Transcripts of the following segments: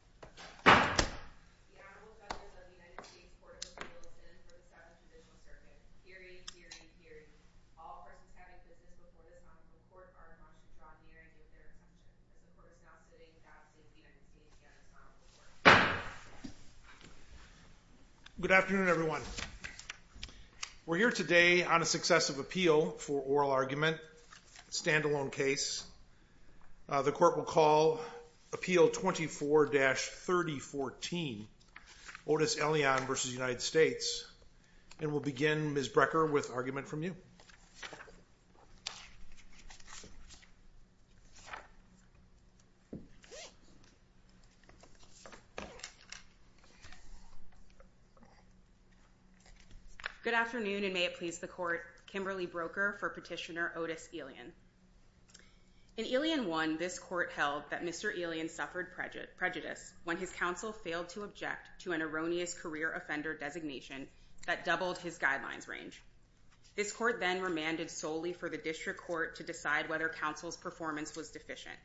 Court of Appeals. The Honorable Justice of the United States Court of Appeals is in for the Seventh Judicial Circuit. Period, period, period. All persons having business before the Assembly Court are admonished to draw near and give their attention. The Court is now sitting without the State of the United States and the Assembly Court. Good afternoon, everyone. We're here today on a successive appeal for oral argument, a standalone case. The Court will call Appeal 24-3014, Otis Elion v. United States, and we'll begin, Ms. Brecker, with argument from you. Good afternoon, and may it please the Court, Kimberly Broker for Petitioner Otis Elion. In Elion 1, this Court held that Mr. Elion suffered prejudice when his counsel failed to object to an erroneous career offender designation that doubled his guidelines range. This Court then remanded solely for the District Court to decide whether counsel's performance was deficient.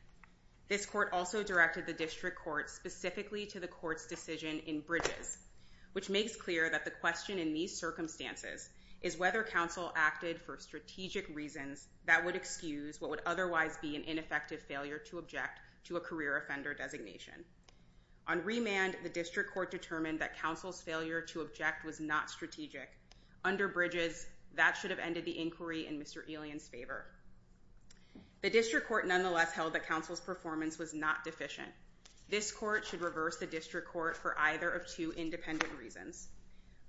This Court also directed the District Court specifically to the Court's decision in Bridges, which makes clear that the question in these circumstances is whether counsel acted for strategic reasons that would excuse what would otherwise be an ineffective failure to object to a career offender designation. On remand, the District Court determined that counsel's failure to object was not strategic. Under Bridges, that should have ended the inquiry in Mr. Elion's favor. The District Court nonetheless held that counsel's performance was not deficient. This Court should reverse the District Court for either of two independent reasons.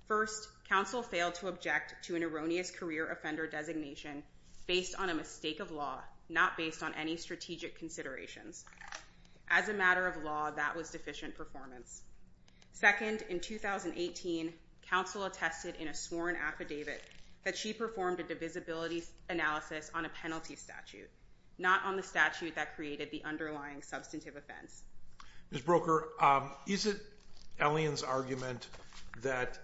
First, counsel failed to object to an erroneous career offender designation based on a mistake of law, not based on any strategic considerations. As a matter of law, that was deficient performance. Second, in 2018, counsel attested in a sworn affidavit that she performed a divisibility analysis on a penalty statute, not on the statute that created the underlying substantive offense. Ms. Broker, is it Elion's argument that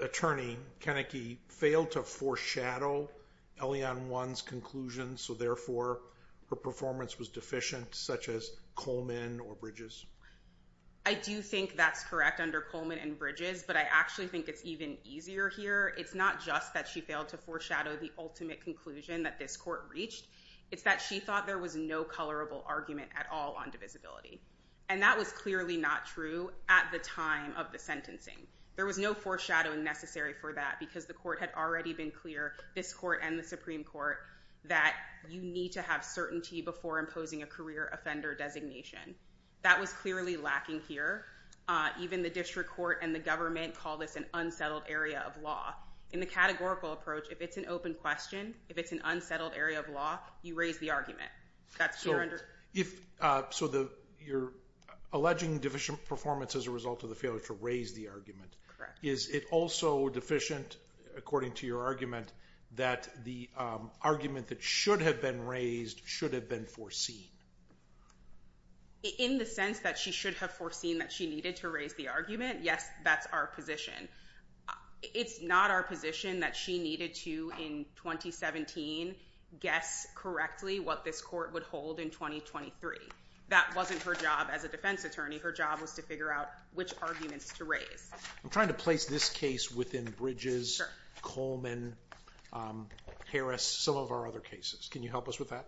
Attorney Kennecke failed to foreshadow Elion 1's conclusion, so therefore her performance was deficient, such as Coleman or Bridges? I do think that's correct under Coleman and Bridges, but I actually think it's even easier here. It's not just that she failed to foreshadow the ultimate conclusion that this Court reached. It's that she thought there was no colorable argument at all on divisibility. And that was clearly not true at the time of the sentencing. There was no foreshadowing necessary for that because the Court had already been clear, this Court and the Supreme Court, that you need to have certainty before imposing a career offender designation. That was clearly lacking here. Even the District Court and the government call this an unsettled area of law. In the categorical approach, if it's an open question, if it's an unsettled area of law, you raise the argument. So you're alleging deficient performance as a result of the failure to raise the argument. Correct. Is it also deficient, according to your argument, that the argument that should have been raised should have been foreseen? In the sense that she should have foreseen that she needed to raise the argument, yes, that's our position. It's not our position that she needed to, in 2017, guess correctly what this Court would hold in 2023. That wasn't her job as a defense attorney. Her job was to figure out which arguments to raise. I'm trying to place this case within Bridges, Coleman, Harris, some of our other cases. Can you help us with that?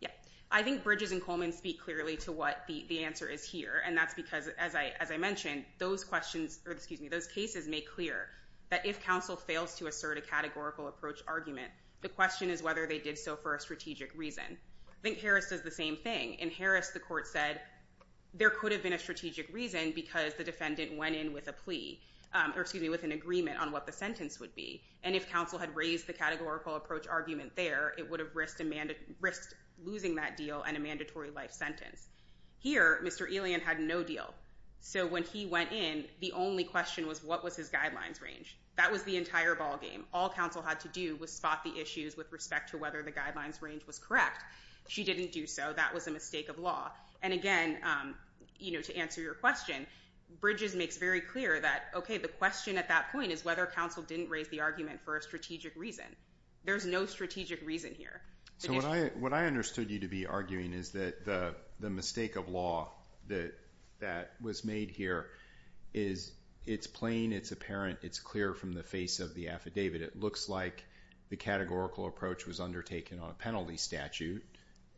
Yeah. I think Bridges and Coleman speak clearly to what the answer is here. And that's because, as I mentioned, those cases make clear that if counsel fails to assert a categorical approach argument, the question is whether they did so for a strategic reason. I think Harris does the same thing. In Harris, the Court said there could have been a strategic reason because the defendant went in with an agreement on what the sentence would be. And if counsel had raised the categorical approach argument there, it would have risked losing that deal and a mandatory life sentence. Here, Mr. Elian had no deal. So when he went in, the only question was what was his guidelines range. That was the entire ballgame. All counsel had to do was spot the issues with respect to whether the guidelines range was correct. She didn't do so. That was a mistake of law. And again, to answer your question, Bridges makes very clear that, okay, the question at that point is whether counsel didn't raise the argument for a strategic reason. There's no strategic reason here. So what I understood you to be arguing is that the mistake of law that was made here is it's plain, it's apparent, it's clear from the face of the affidavit. It looks like the categorical approach was undertaken on a penalty statute.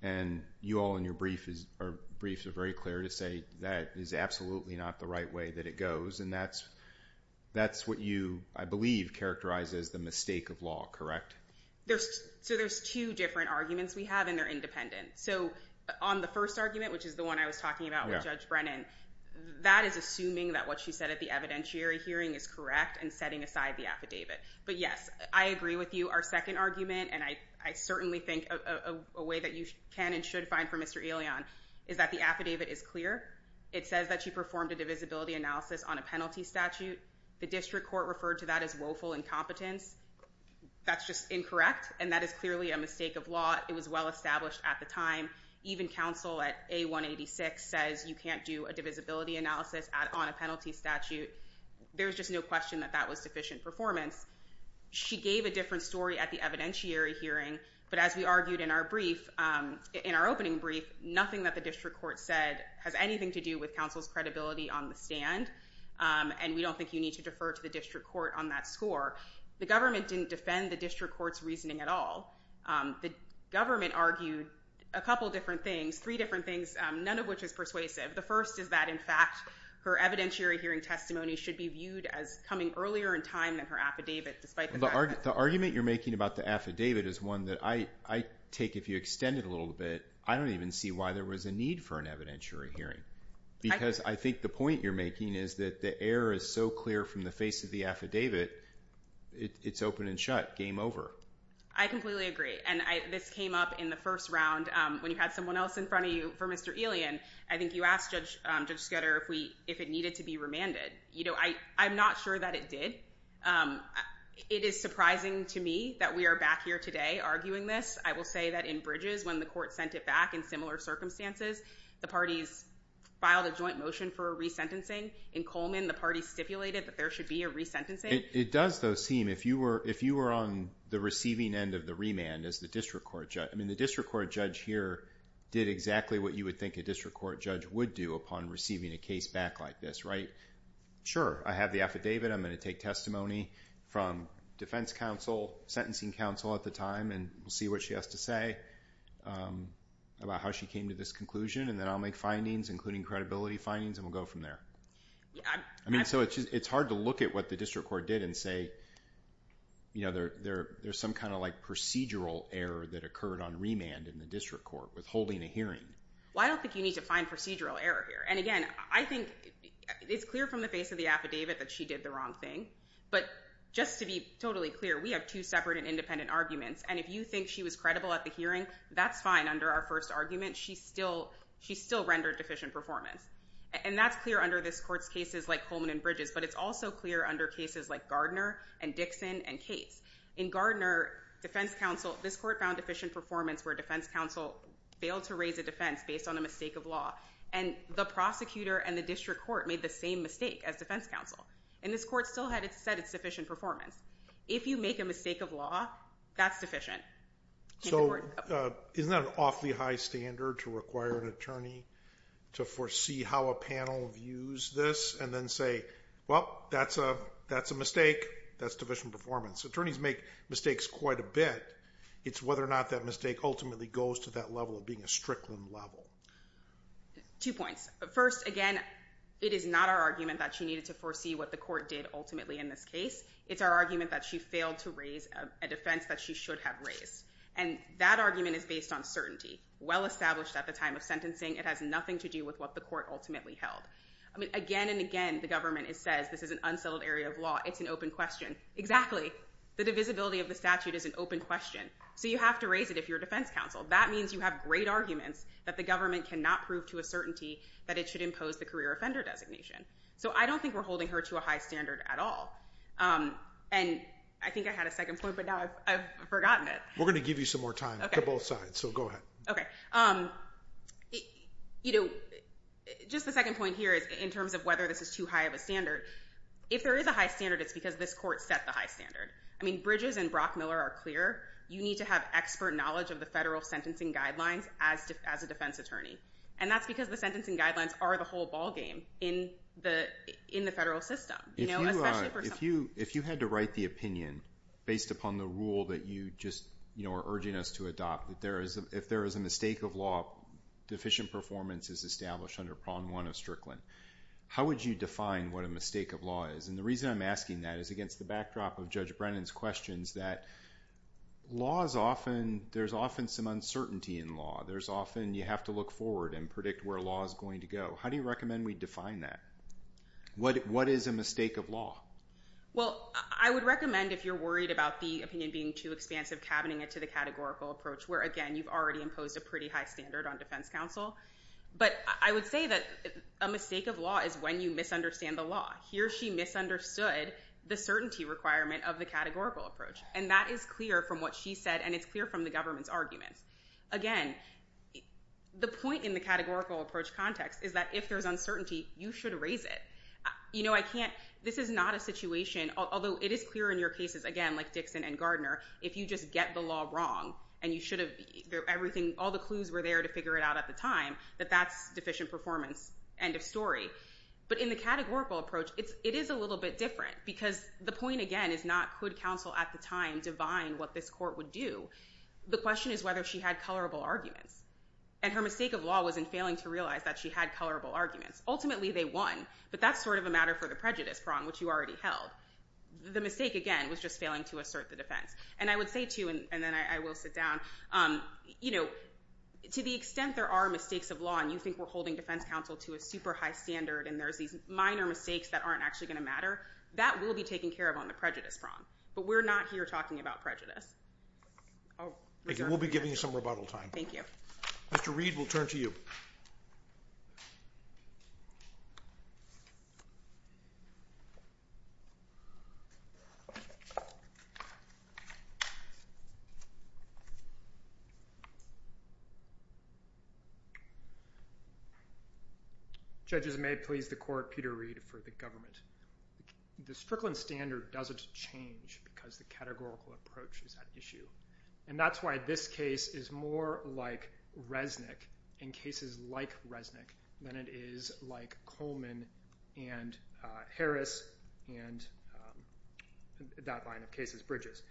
And you all in your briefs are very clear to say that is absolutely not the right way that it goes. And that's what you, I believe, characterize as the mistake of law, correct? So there's two different arguments we have, and they're independent. So on the first argument, which is the one I was talking about with Judge Brennan, that is assuming that what she said at the evidentiary hearing is correct and setting aside the affidavit. But yes, I agree with you. Our second argument, and I certainly think a way that you can and should find for Mr. Elion is that the affidavit is clear. It says that she performed a divisibility analysis on a penalty statute. The district court referred to that as woeful incompetence. That's just incorrect, and that is clearly a mistake of law. It was well-established at the time. Even counsel at A186 says you can't do a divisibility analysis on a penalty statute. There's just no question that that was sufficient performance. She gave a different story at the evidentiary hearing, but as we argued in our brief, in our opening brief, nothing that the district court said has anything to do with counsel's credibility on the stand, and we don't think you need to defer to the district court on that score. The government didn't defend the district court's reasoning at all. The government argued a couple different things, three different things, none of which is persuasive. The first is that, in fact, her evidentiary hearing testimony should be viewed as coming earlier in time than her affidavit, despite the fact that— The argument you're making about the affidavit is one that I take, if you extend it a little bit, I don't even see why there was a need for an evidentiary hearing, because I think the point you're making is that the air is so clear from the face of the affidavit, it's open and shut. Game over. I completely agree. And this came up in the first round when you had someone else in front of you for Mr. Elian. I think you asked Judge Sketter if it needed to be remanded. I'm not sure that it did. It is surprising to me that we are back here today arguing this. I will say that in Bridges, when the court sent it back in similar circumstances, the parties filed a joint motion for a resentencing. In Coleman, the parties stipulated that there should be a resentencing. It does, though, seem, if you were on the receiving end of the remand as the district court judge—I mean, the district court judge here did exactly what you would think a district court judge would do upon receiving a case back like this, right? Sure. I have the affidavit. I'm going to take testimony from defense counsel, sentencing counsel at the time, and we'll see what she has to say about how she came to this conclusion, and then I'll make findings, including credibility findings, and we'll go from there. I mean, so it's hard to look at what the district court did and say, you know, there's some kind of, like, procedural error that occurred on remand in the district court withholding a hearing. Well, I don't think you need to find procedural error here. And again, I think it's clear from the face of the affidavit that she did the wrong thing. But just to be totally clear, we have two separate and independent arguments, and if you think she was credible at the hearing, that's fine under our first argument. She still rendered deficient performance. And that's clear under this court's cases like Coleman and Bridges, but it's also clear under cases like Gardner and Dixon and Cates. In Gardner, defense counsel—this court found deficient performance where defense counsel failed to raise a defense based on a mistake of law, and the prosecutor and the district court made the same mistake as defense counsel, and this court still had said it's deficient performance. If you make a mistake of law, that's deficient. So, isn't that an awfully high standard to require an attorney to foresee how a panel views this and then say, well, that's a mistake, that's deficient performance? Attorneys make mistakes quite a bit. It's whether or not that mistake ultimately goes to that level of being a strickland level. Two points. First, again, it is not our argument that she needed to foresee what the court did ultimately in this case. It's our argument that she failed to raise a defense that she should have raised. And that argument is based on certainty. Well established at the time of sentencing, it has nothing to do with what the court ultimately held. I mean, again and again, the government says this is an unsettled area of law, it's an open question. Exactly. The divisibility of the statute is an open question, so you have to raise it if you're defense counsel. That means you have great arguments that the government cannot prove to a certainty that it should impose the career offender designation. So I don't think we're holding her to a high standard at all. And I think I had a second point, but now I've forgotten it. We're going to give you some more time to both sides, so go ahead. Okay. You know, just the second point here is in terms of whether this is too high of a standard. If there is a high standard, it's because this court set the high standard. I mean, Bridges and Brockmiller are clear, you need to have expert knowledge of the federal sentencing guidelines as a defense attorney. And that's because the sentencing guidelines are the whole ballgame in the federal system. If you had to write the opinion based upon the rule that you just are urging us to adopt, if there is a mistake of law, deficient performance is established under prong one of Strickland. How would you define what a mistake of law is? And the reason I'm asking that is against the backdrop of Judge Brennan's questions that law is often, there's often some uncertainty in law. There's often, you have to look forward and predict where law is going to go. How do you recommend we define that? What is a mistake of law? Well, I would recommend if you're worried about the opinion being too expansive, cabining it to the categorical approach, where again, you've already imposed a pretty high standard on defense counsel. But I would say that a mistake of law is when you misunderstand the law. Here she misunderstood the certainty requirement of the categorical approach. And that is clear from what she said, and it's clear from the government's arguments. Again, the point in the categorical approach context is that if there's uncertainty, you should raise it. You know, I can't, this is not a situation, although it is clear in your cases, again, like Dixon and Gardner, if you just get the law wrong, and you should have, everything, all the clues were there to figure it out at the time, that that's deficient performance. End of story. But in the categorical approach, it is a little bit different. Because the point, again, is not could counsel at the time divine what this court would do? The question is whether she had colorable arguments. And her mistake of law was in failing to realize that she had colorable arguments. Ultimately, they won, but that's sort of a matter for the prejudice prong, which you already held. The mistake, again, was just failing to assert the defense. And I would say, too, and then I will sit down, you know, to the extent there are mistakes of law, and you think we're holding defense counsel to a super high standard, and there's these minor mistakes that aren't actually going to matter, that will be taken care of on the prejudice prong. But we're not here talking about prejudice. We'll be giving you some rebuttal time. Mr. Reed, we'll turn to you. Judges, may it please the court, Peter Reed for the government. The Strickland standard doesn't change because the categorical approach is at issue. And that's why this case is more like Resnick and cases like Resnick than it is like Coleman and Harris and that line of cases, Bridges.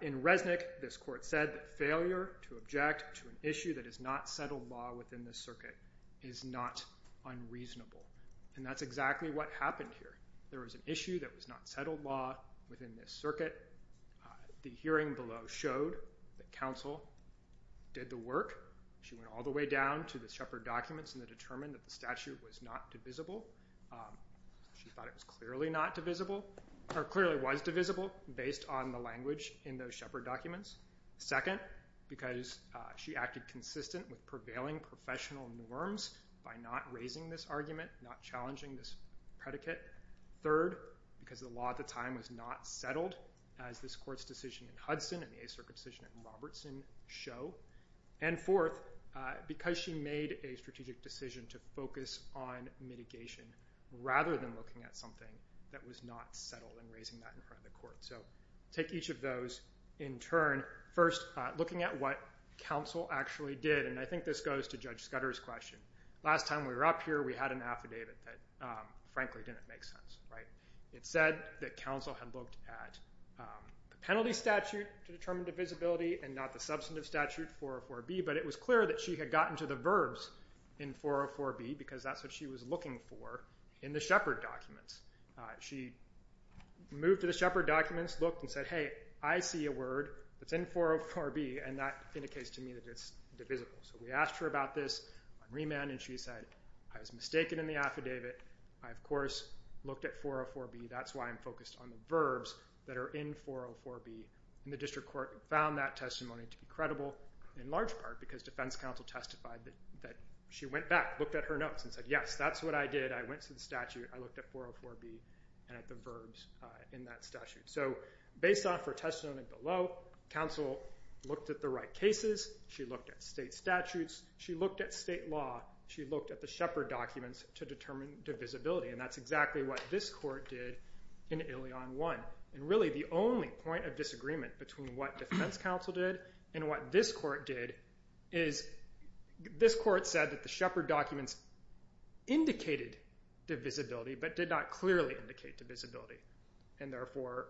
In Resnick, this court said that failure to object to an issue that is not settled law within the circuit is not unreasonable. And that's exactly what happened here. There was an issue that was not settled law within this circuit. The hearing below showed that counsel did the work. She went all the way down to the Shepherd documents and determined that the statute was not divisible. She thought it was clearly not divisible, or clearly was divisible based on the language in those Shepherd documents. Second, because she acted consistent with prevailing professional norms by not raising this argument, not challenging this predicate. Third, because the law at the time was not settled, as this court's decision in Hudson and the A Circuit decision in Robertson show. And fourth, because she made a strategic decision to focus on mitigation rather than looking at something that was not settled and raising that in front of the court. So take each of those in turn. First, looking at what counsel actually did. And I think this goes to Judge Scudder's question. Last time we were up here, we had an affidavit that frankly didn't make sense. It said that counsel had looked at the penalty statute to determine divisibility and not the substantive statute 404B, but it was clear that she had gotten to the verbs in 404B, because that's what she was looking for in the Shepherd documents. She moved to the Shepherd documents, looked and said, hey, I see a word that's in 404B and that indicates to me that it's divisible. So we asked her about this on remand and she said, I was mistaken in the affidavit. I, of course, looked at 404B. That's why I'm focused on the verbs that are in 404B. And the district court found that testimony to be credible in large part because defense counsel testified that she went back, looked at her notes and said, yes, that's what I did. I went to the statute. I looked at 404B and at the verbs in that statute. So based off her testimony below, counsel looked at the right cases. She looked at state statutes. She looked at state law. She looked at the Shepherd documents to determine divisibility and that's exactly what this court did in Ilion I. And really the only point of disagreement between what defense counsel did and what this court did is this court said that the Shepherd documents indicated divisibility, but did not clearly indicate divisibility and therefore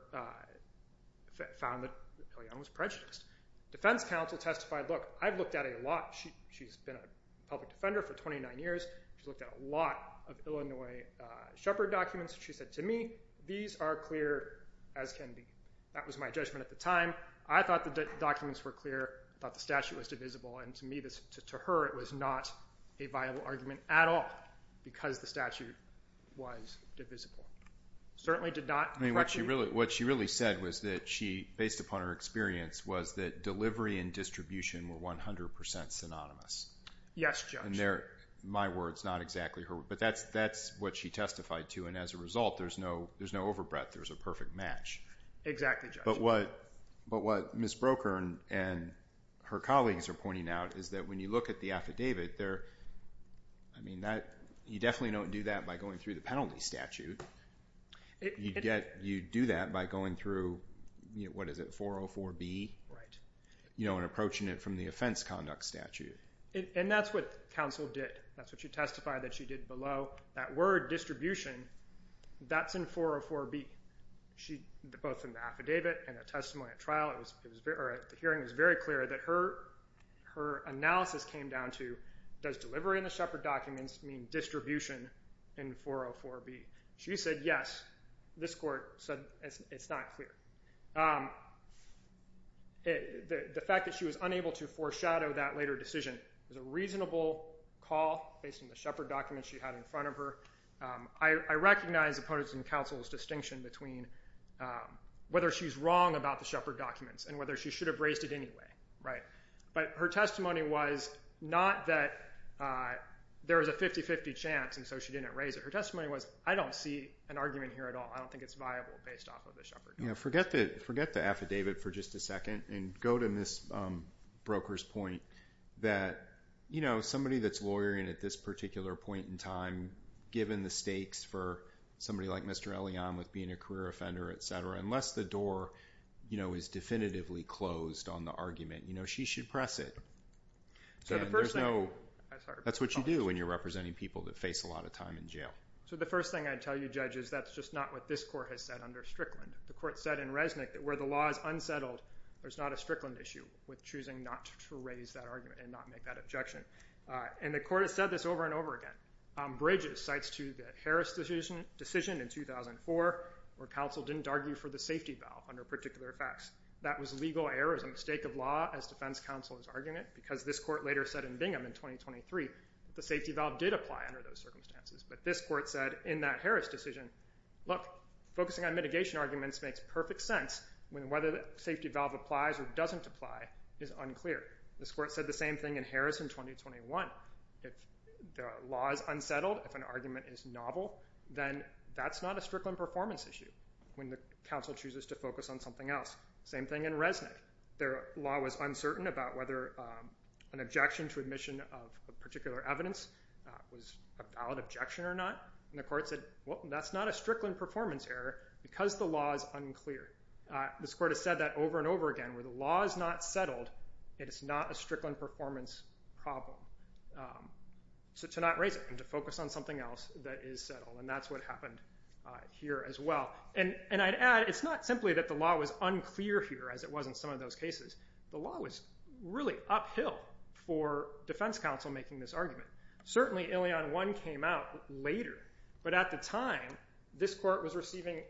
found that Ilion was prejudiced. Defense counsel testified, look, I've looked at a lot. She's been a public defender for 29 years. She's looked at a lot of Ilion I. Shepherd documents. She said, to me, these are clear as can be. That was my judgment at the time. I thought the documents were clear. I thought the statute was divisible and to me, to her, it was not a viable argument at all because the statute was divisible. Certainly did not correctly. What she really said was that she, based upon her experience, was that delivery and distribution were 100% synonymous. Yes, Judge. My words, not exactly her, but that's what she testified to and as a result, there's no overbreath. There's a perfect match. Exactly, Judge. But what Ms. Broeker and her colleagues are pointing out is that when you look at the affidavit, you definitely don't do that by going through the penalty statute. You do that by going through, what is it, 404-B and approaching it from the offense conduct statute. And that's what counsel did. That's what she testified that she did below. That word, distribution, that's in 404-B, both in the affidavit and the testimony at The hearing was very clear that her analysis came down to, does delivery in the Shepherd documents mean distribution in 404-B? She said yes. This court said it's not clear. The fact that she was unable to foreshadow that later decision was a reasonable call based on the Shepherd documents she had in front of her. I recognize opponents in counsel's distinction between whether she's wrong about the Shepherd documents and whether she should have raised it anyway, right? But her testimony was not that there was a 50-50 chance and so she didn't raise it. Her testimony was, I don't see an argument here at all. I don't think it's viable based off of the Shepherd documents. Forget the affidavit for just a second and go to Ms. Broker's point that somebody that's lawyering at this particular point in time, given the stakes for somebody like Mr. Elion with being a career offender, et cetera, unless the door is definitively closed on the argument, she should press it. That's what you do when you're representing people that face a lot of time in jail. So the first thing I'd tell you judges, that's just not what this court has said under Strickland. The court said in Resnick that where the law is unsettled, there's not a Strickland issue with choosing not to raise that argument and not make that objection. And the court has said this over and over again. Bridges cites to the Harris decision in 2004 where counsel didn't argue for the safety valve under particular facts. That was legal error. It was a mistake of law as defense counsel is arguing it because this court later said in Bingham in 2023 that the safety valve did apply under those circumstances. But this court said in that Harris decision, look, focusing on mitigation arguments makes perfect sense when whether the safety valve applies or doesn't apply is unclear. This court said the same thing in Harris in 2021. If the law is unsettled, if an argument is novel, then that's not a Strickland performance issue when the counsel chooses to focus on something else. Same thing in Resnick. Their law was uncertain about whether an objection to admission of a particular evidence was a valid objection or not. And the court said, well, that's not a Strickland performance error because the law is unclear. This court has said that over and over again. Where the law is not settled, it is not a Strickland performance problem. So to not raise it and to focus on something else that is settled, and that's what happened here as well. And I'd add it's not simply that the law was unclear here as it was in some of those cases. The law was really uphill for defense counsel making this argument. Certainly Ilion I came out later. But at the time, this court was receiving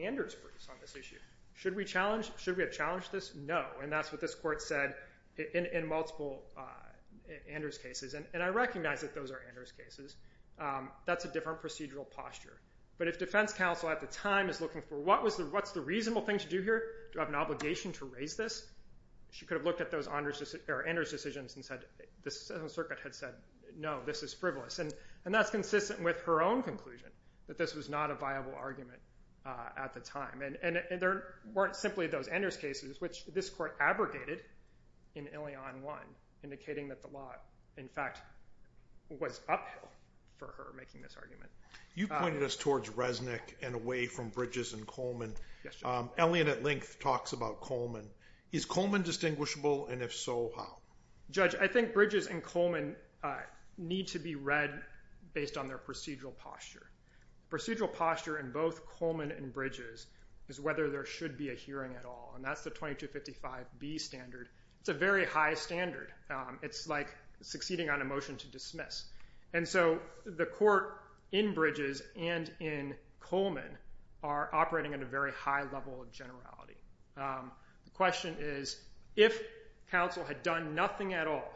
Anders' briefs on this issue. Should we challenge? Should we have challenged this? No. And that's what this court said in multiple Anders' cases. And I recognize that those are Anders' cases. That's a different procedural posture. But if defense counsel at the time is looking for what's the reasonable thing to do here, do I have an obligation to raise this? She could have looked at those Anders' decisions and said, the Seventh Circuit had said, no, this is frivolous. And that's consistent with her own conclusion, that this was not a viable argument at the time. And there weren't simply those Anders' cases, which this court abrogated in Ilion I, indicating that the law, in fact, was uphill for her making this argument. You pointed us towards Resnick and away from Bridges and Coleman. Ilion at length talks about Coleman. Is Coleman distinguishable? And if so, how? Judge, I think Bridges and Coleman need to be read based on their procedural posture. Procedural posture in both Coleman and Bridges is whether there should be a hearing at all. And that's the 2255B standard. It's a very high standard. It's like succeeding on a motion to dismiss. And so the court in Bridges and in Coleman are operating at a very high level of generality. The question is, if counsel had done nothing at all,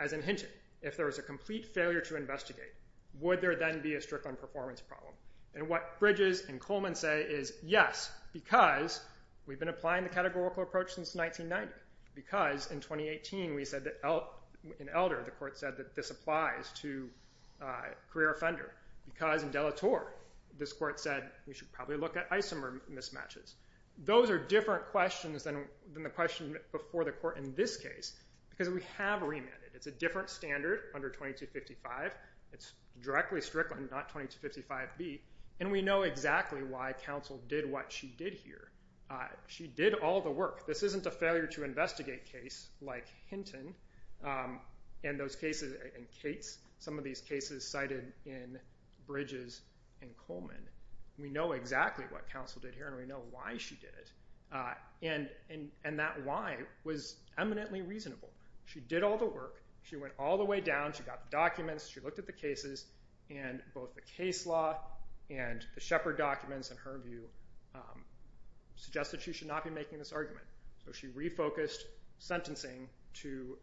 as in Hinton, if there was a complete failure to investigate, would there then be a Strickland performance problem? And what Bridges and Coleman say is, yes, because we've been applying the categorical approach since 1990, because in 2018, we said that in Elder, the court said that this applies to career offender, because in De La Torre, this court said we should probably look at isomer mismatches. Those are different questions than the question before the court in this case, because we have remanded. It's a different standard under 2255. It's directly Strickland, not 2255B. And we know exactly why counsel did what she did here. She did all the work. This isn't a failure to investigate case like Hinton and those cases in Cates. Some of these cases cited in Bridges and Coleman. We know exactly what counsel did here, and we know why she did it. And that why was eminently reasonable. She did all the work. She went all the way down. She got the documents. She looked at the cases. And both the case law and the Shepard documents, in her view, suggested she should not be making this argument. So she refocused sentencing to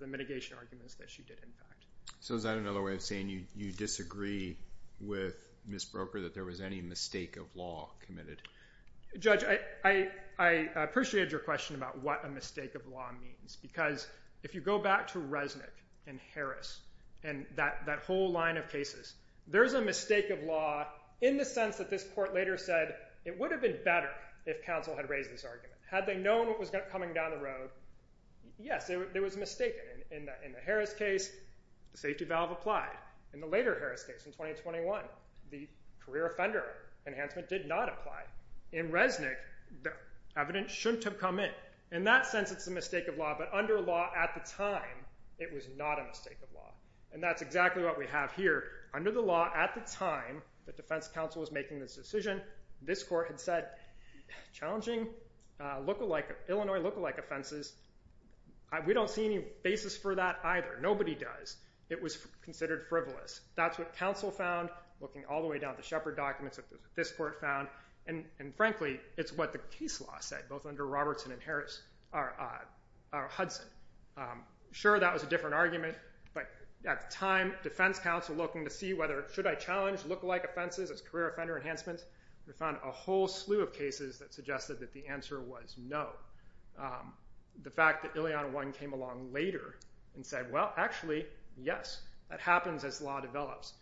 the mitigation arguments that she did, in fact. So is that another way of saying you disagree with Ms. Broker, that there was any mistake of law committed? Judge, I appreciated your question about what a mistake of law means, because if you go back to Resnick and Harris and that whole line of cases, there's a mistake of law in the sense that this court later said it would have been better if counsel had raised this Had they known what was coming down the road, yes, it was mistaken. In the Harris case, the safety valve applied. In the later Harris case in 2021, the career offender enhancement did not apply. In Resnick, the evidence shouldn't have come in. In that sense, it's a mistake of law. But under law at the time, it was not a mistake of law. And that's exactly what we have here. Under the law at the time that defense counsel was making this decision, this court had said, challenging, Illinois lookalike offenses, we don't see any basis for that either. Nobody does. It was considered frivolous. That's what counsel found, looking all the way down to Shepard documents, that's what this court found. And frankly, it's what the case law said, both under Robertson and Harris, or Hudson. Sure that was a different argument, but at the time, defense counsel looking to see whether should I challenge lookalike offenses as career offender enhancements, we found a whole slew of cases that suggested that the answer was no. The fact that Ileana One came along later and said, well, actually, yes, that happens as law develops.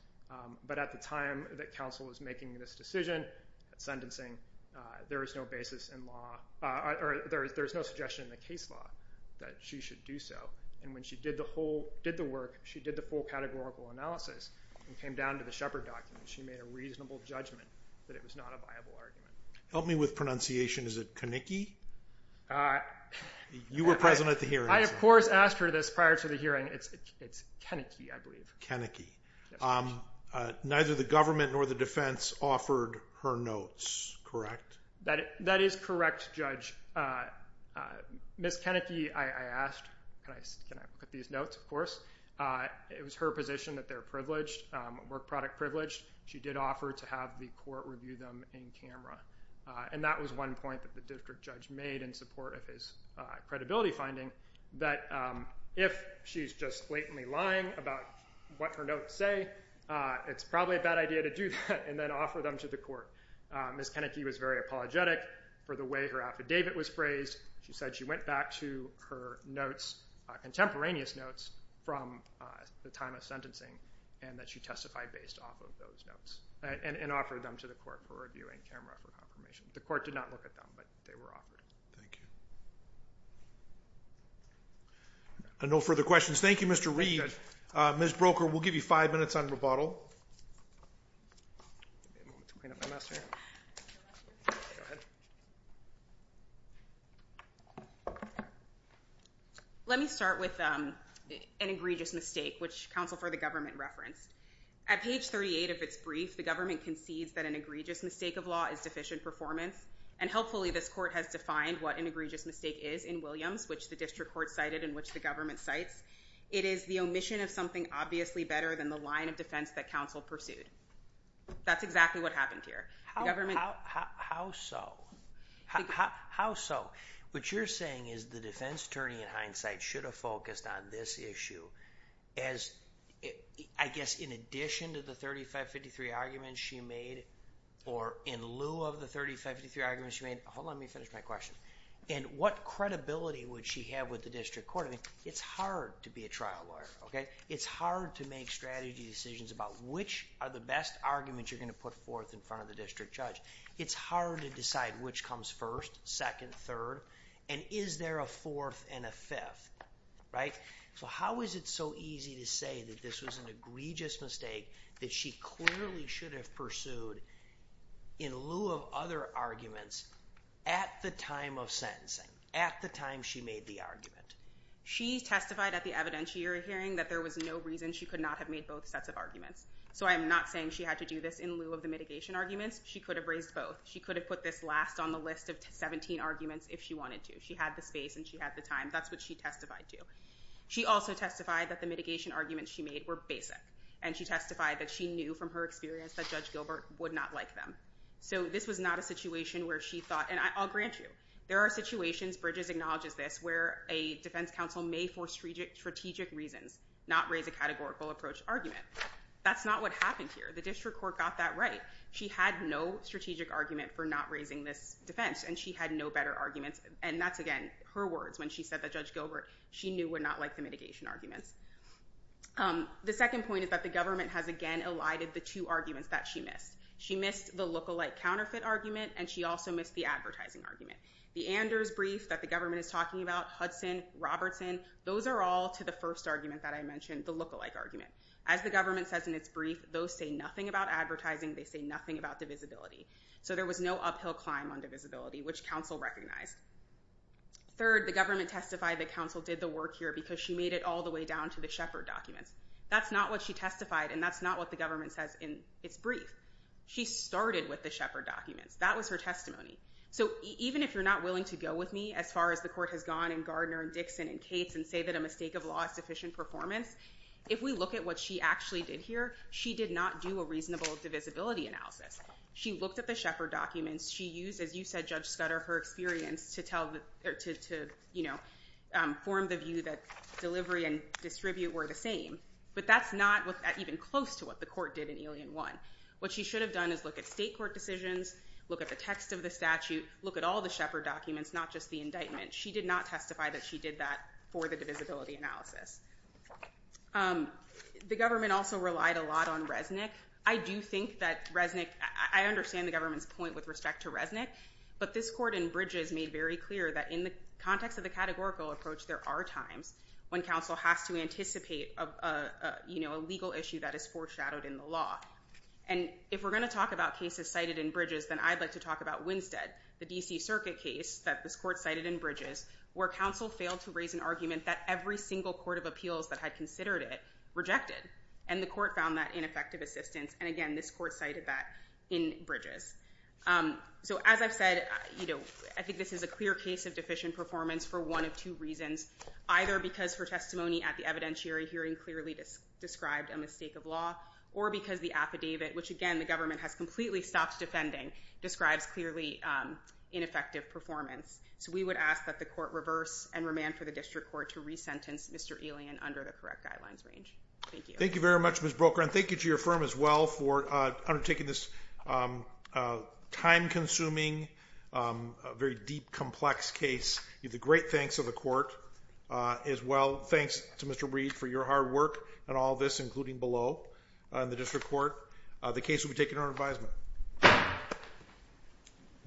But at the time that counsel was making this decision, sentencing, there is no basis in law, or there's no suggestion in the case law that she should do so. And when she did the work, she did the full categorical analysis and came down to the Shepard documents. She made a reasonable judgment that it was not a viable argument. Help me with pronunciation. Is it Kenicky? You were present at the hearing. I, of course, asked her this prior to the hearing. It's Kenicky, I believe. Kenicky. Neither the government nor the defense offered her notes, correct? That is correct, Judge. Ms. Kenicky, I asked, can I look at these notes, of course. It was her position that they're privileged, work product privileged. She did offer to have the court review them in camera. And that was one point that the district judge made in support of his credibility finding that if she's just blatantly lying about what her notes say, it's probably a bad idea to do that and then offer them to the court. Ms. Kenicky was very apologetic for the way her affidavit was phrased. She said she went back to her notes, contemporaneous notes, from the time of sentencing and that she testified based off of those notes and offered them to the court for review in camera for confirmation. The court did not look at them, but they were offered. Thank you. And no further questions. Thank you, Mr. Reed. Ms. Broker, we'll give you five minutes on rebuttal. Let me start with an egregious mistake, which counsel for the government referenced. At page 38 of its brief, the government concedes that an egregious mistake of law is deficient in performance. And helpfully, this court has defined what an egregious mistake is in Williams, which the district court cited and which the government cites. It is the omission of something obviously better than the line of defense that counsel pursued. That's exactly what happened here. How so? How so? What you're saying is the defense attorney in hindsight should have focused on this issue as, I guess, in addition to the 3553 arguments she made or in lieu of the 3553 arguments she made. Hold on. Let me finish my question. And what credibility would she have with the district court? It's hard to be a trial lawyer, okay? It's hard to make strategy decisions about which are the best arguments you're going to put forth in front of the district judge. It's hard to decide which comes first, second, third, and is there a fourth and a fifth, right? So how is it so easy to say that this was an egregious mistake that she clearly should have pursued in lieu of other arguments at the time of sentencing, at the time she made the argument? She testified at the evidentiary hearing that there was no reason she could not have made both sets of arguments. So I'm not saying she had to do this in lieu of the mitigation arguments. She could have raised both. She could have put this last on the list of 17 arguments if she wanted to. She had the space and she had the time. That's what she testified to. She also testified that the mitigation arguments she made were basic. And she testified that she knew from her experience that Judge Gilbert would not like them. So this was not a situation where she thought, and I'll grant you, there are situations, Bridges acknowledges this, where a defense counsel may, for strategic reasons, not raise a categorical approach argument. That's not what happened here. The district court got that right. She had no strategic argument for not raising this defense. And she had no better arguments. And that's, again, her words when she said that Judge Gilbert, she knew, would not like the mitigation arguments. The second point is that the government has, again, elided the two arguments that she missed. She missed the lookalike counterfeit argument and she also missed the advertising argument. The Anders brief that the government is talking about, Hudson, Robertson, those are all to the first argument that I mentioned, the lookalike argument. As the government says in its brief, those say nothing about advertising, they say nothing about divisibility. So there was no uphill climb on divisibility, which counsel recognized. Third, the government testified that counsel did the work here because she made it all the way down to the Shepard documents. That's not what she testified and that's not what the government says in its brief. She started with the Shepard documents. That was her testimony. So even if you're not willing to go with me as far as the court has gone and Gardner and Dixon and Cates and say that a mistake of law is sufficient performance, if we look at what she actually did here, she did not do a reasonable divisibility analysis. She looked at the Shepard documents. She used, as you said, Judge Scudder, her experience to form the view that delivery and distribute were the same. But that's not even close to what the court did in Alien 1. What she should have done is look at state court decisions, look at the text of the statute, look at all the Shepard documents, not just the indictment. She did not testify that she did that for the divisibility analysis. The government also relied a lot on Resnick. I do think that Resnick, I understand the government's point with respect to Resnick, but this court in Bridges made very clear that in the context of the categorical approach, there are times when counsel has to anticipate a legal issue that is foreshadowed in the law. And if we're going to talk about cases cited in Bridges, then I'd like to talk about Winstead, the D.C. Circuit case that this court cited in Bridges, where counsel failed to raise an argument that every single court of appeals that had considered it rejected. And the court found that ineffective assistance. And again, this court cited that in Bridges. So as I've said, I think this is a clear case of deficient performance for one of two reasons, either because her testimony at the evidentiary hearing clearly described a mistake of law, or because the affidavit, which again, the government has completely stopped defending, describes clearly ineffective performance. So we would ask that the court reverse and remand for the district court to resentence Mr. Alien under the correct guidelines range. Thank you very much, Ms. Broecker. And thank you to your firm as well for undertaking this time-consuming, very deep, complex case. A great thanks to the court as well. Thanks to Mr. Breed for your hard work on all this, including below in the district court. The case will be taken under advisement.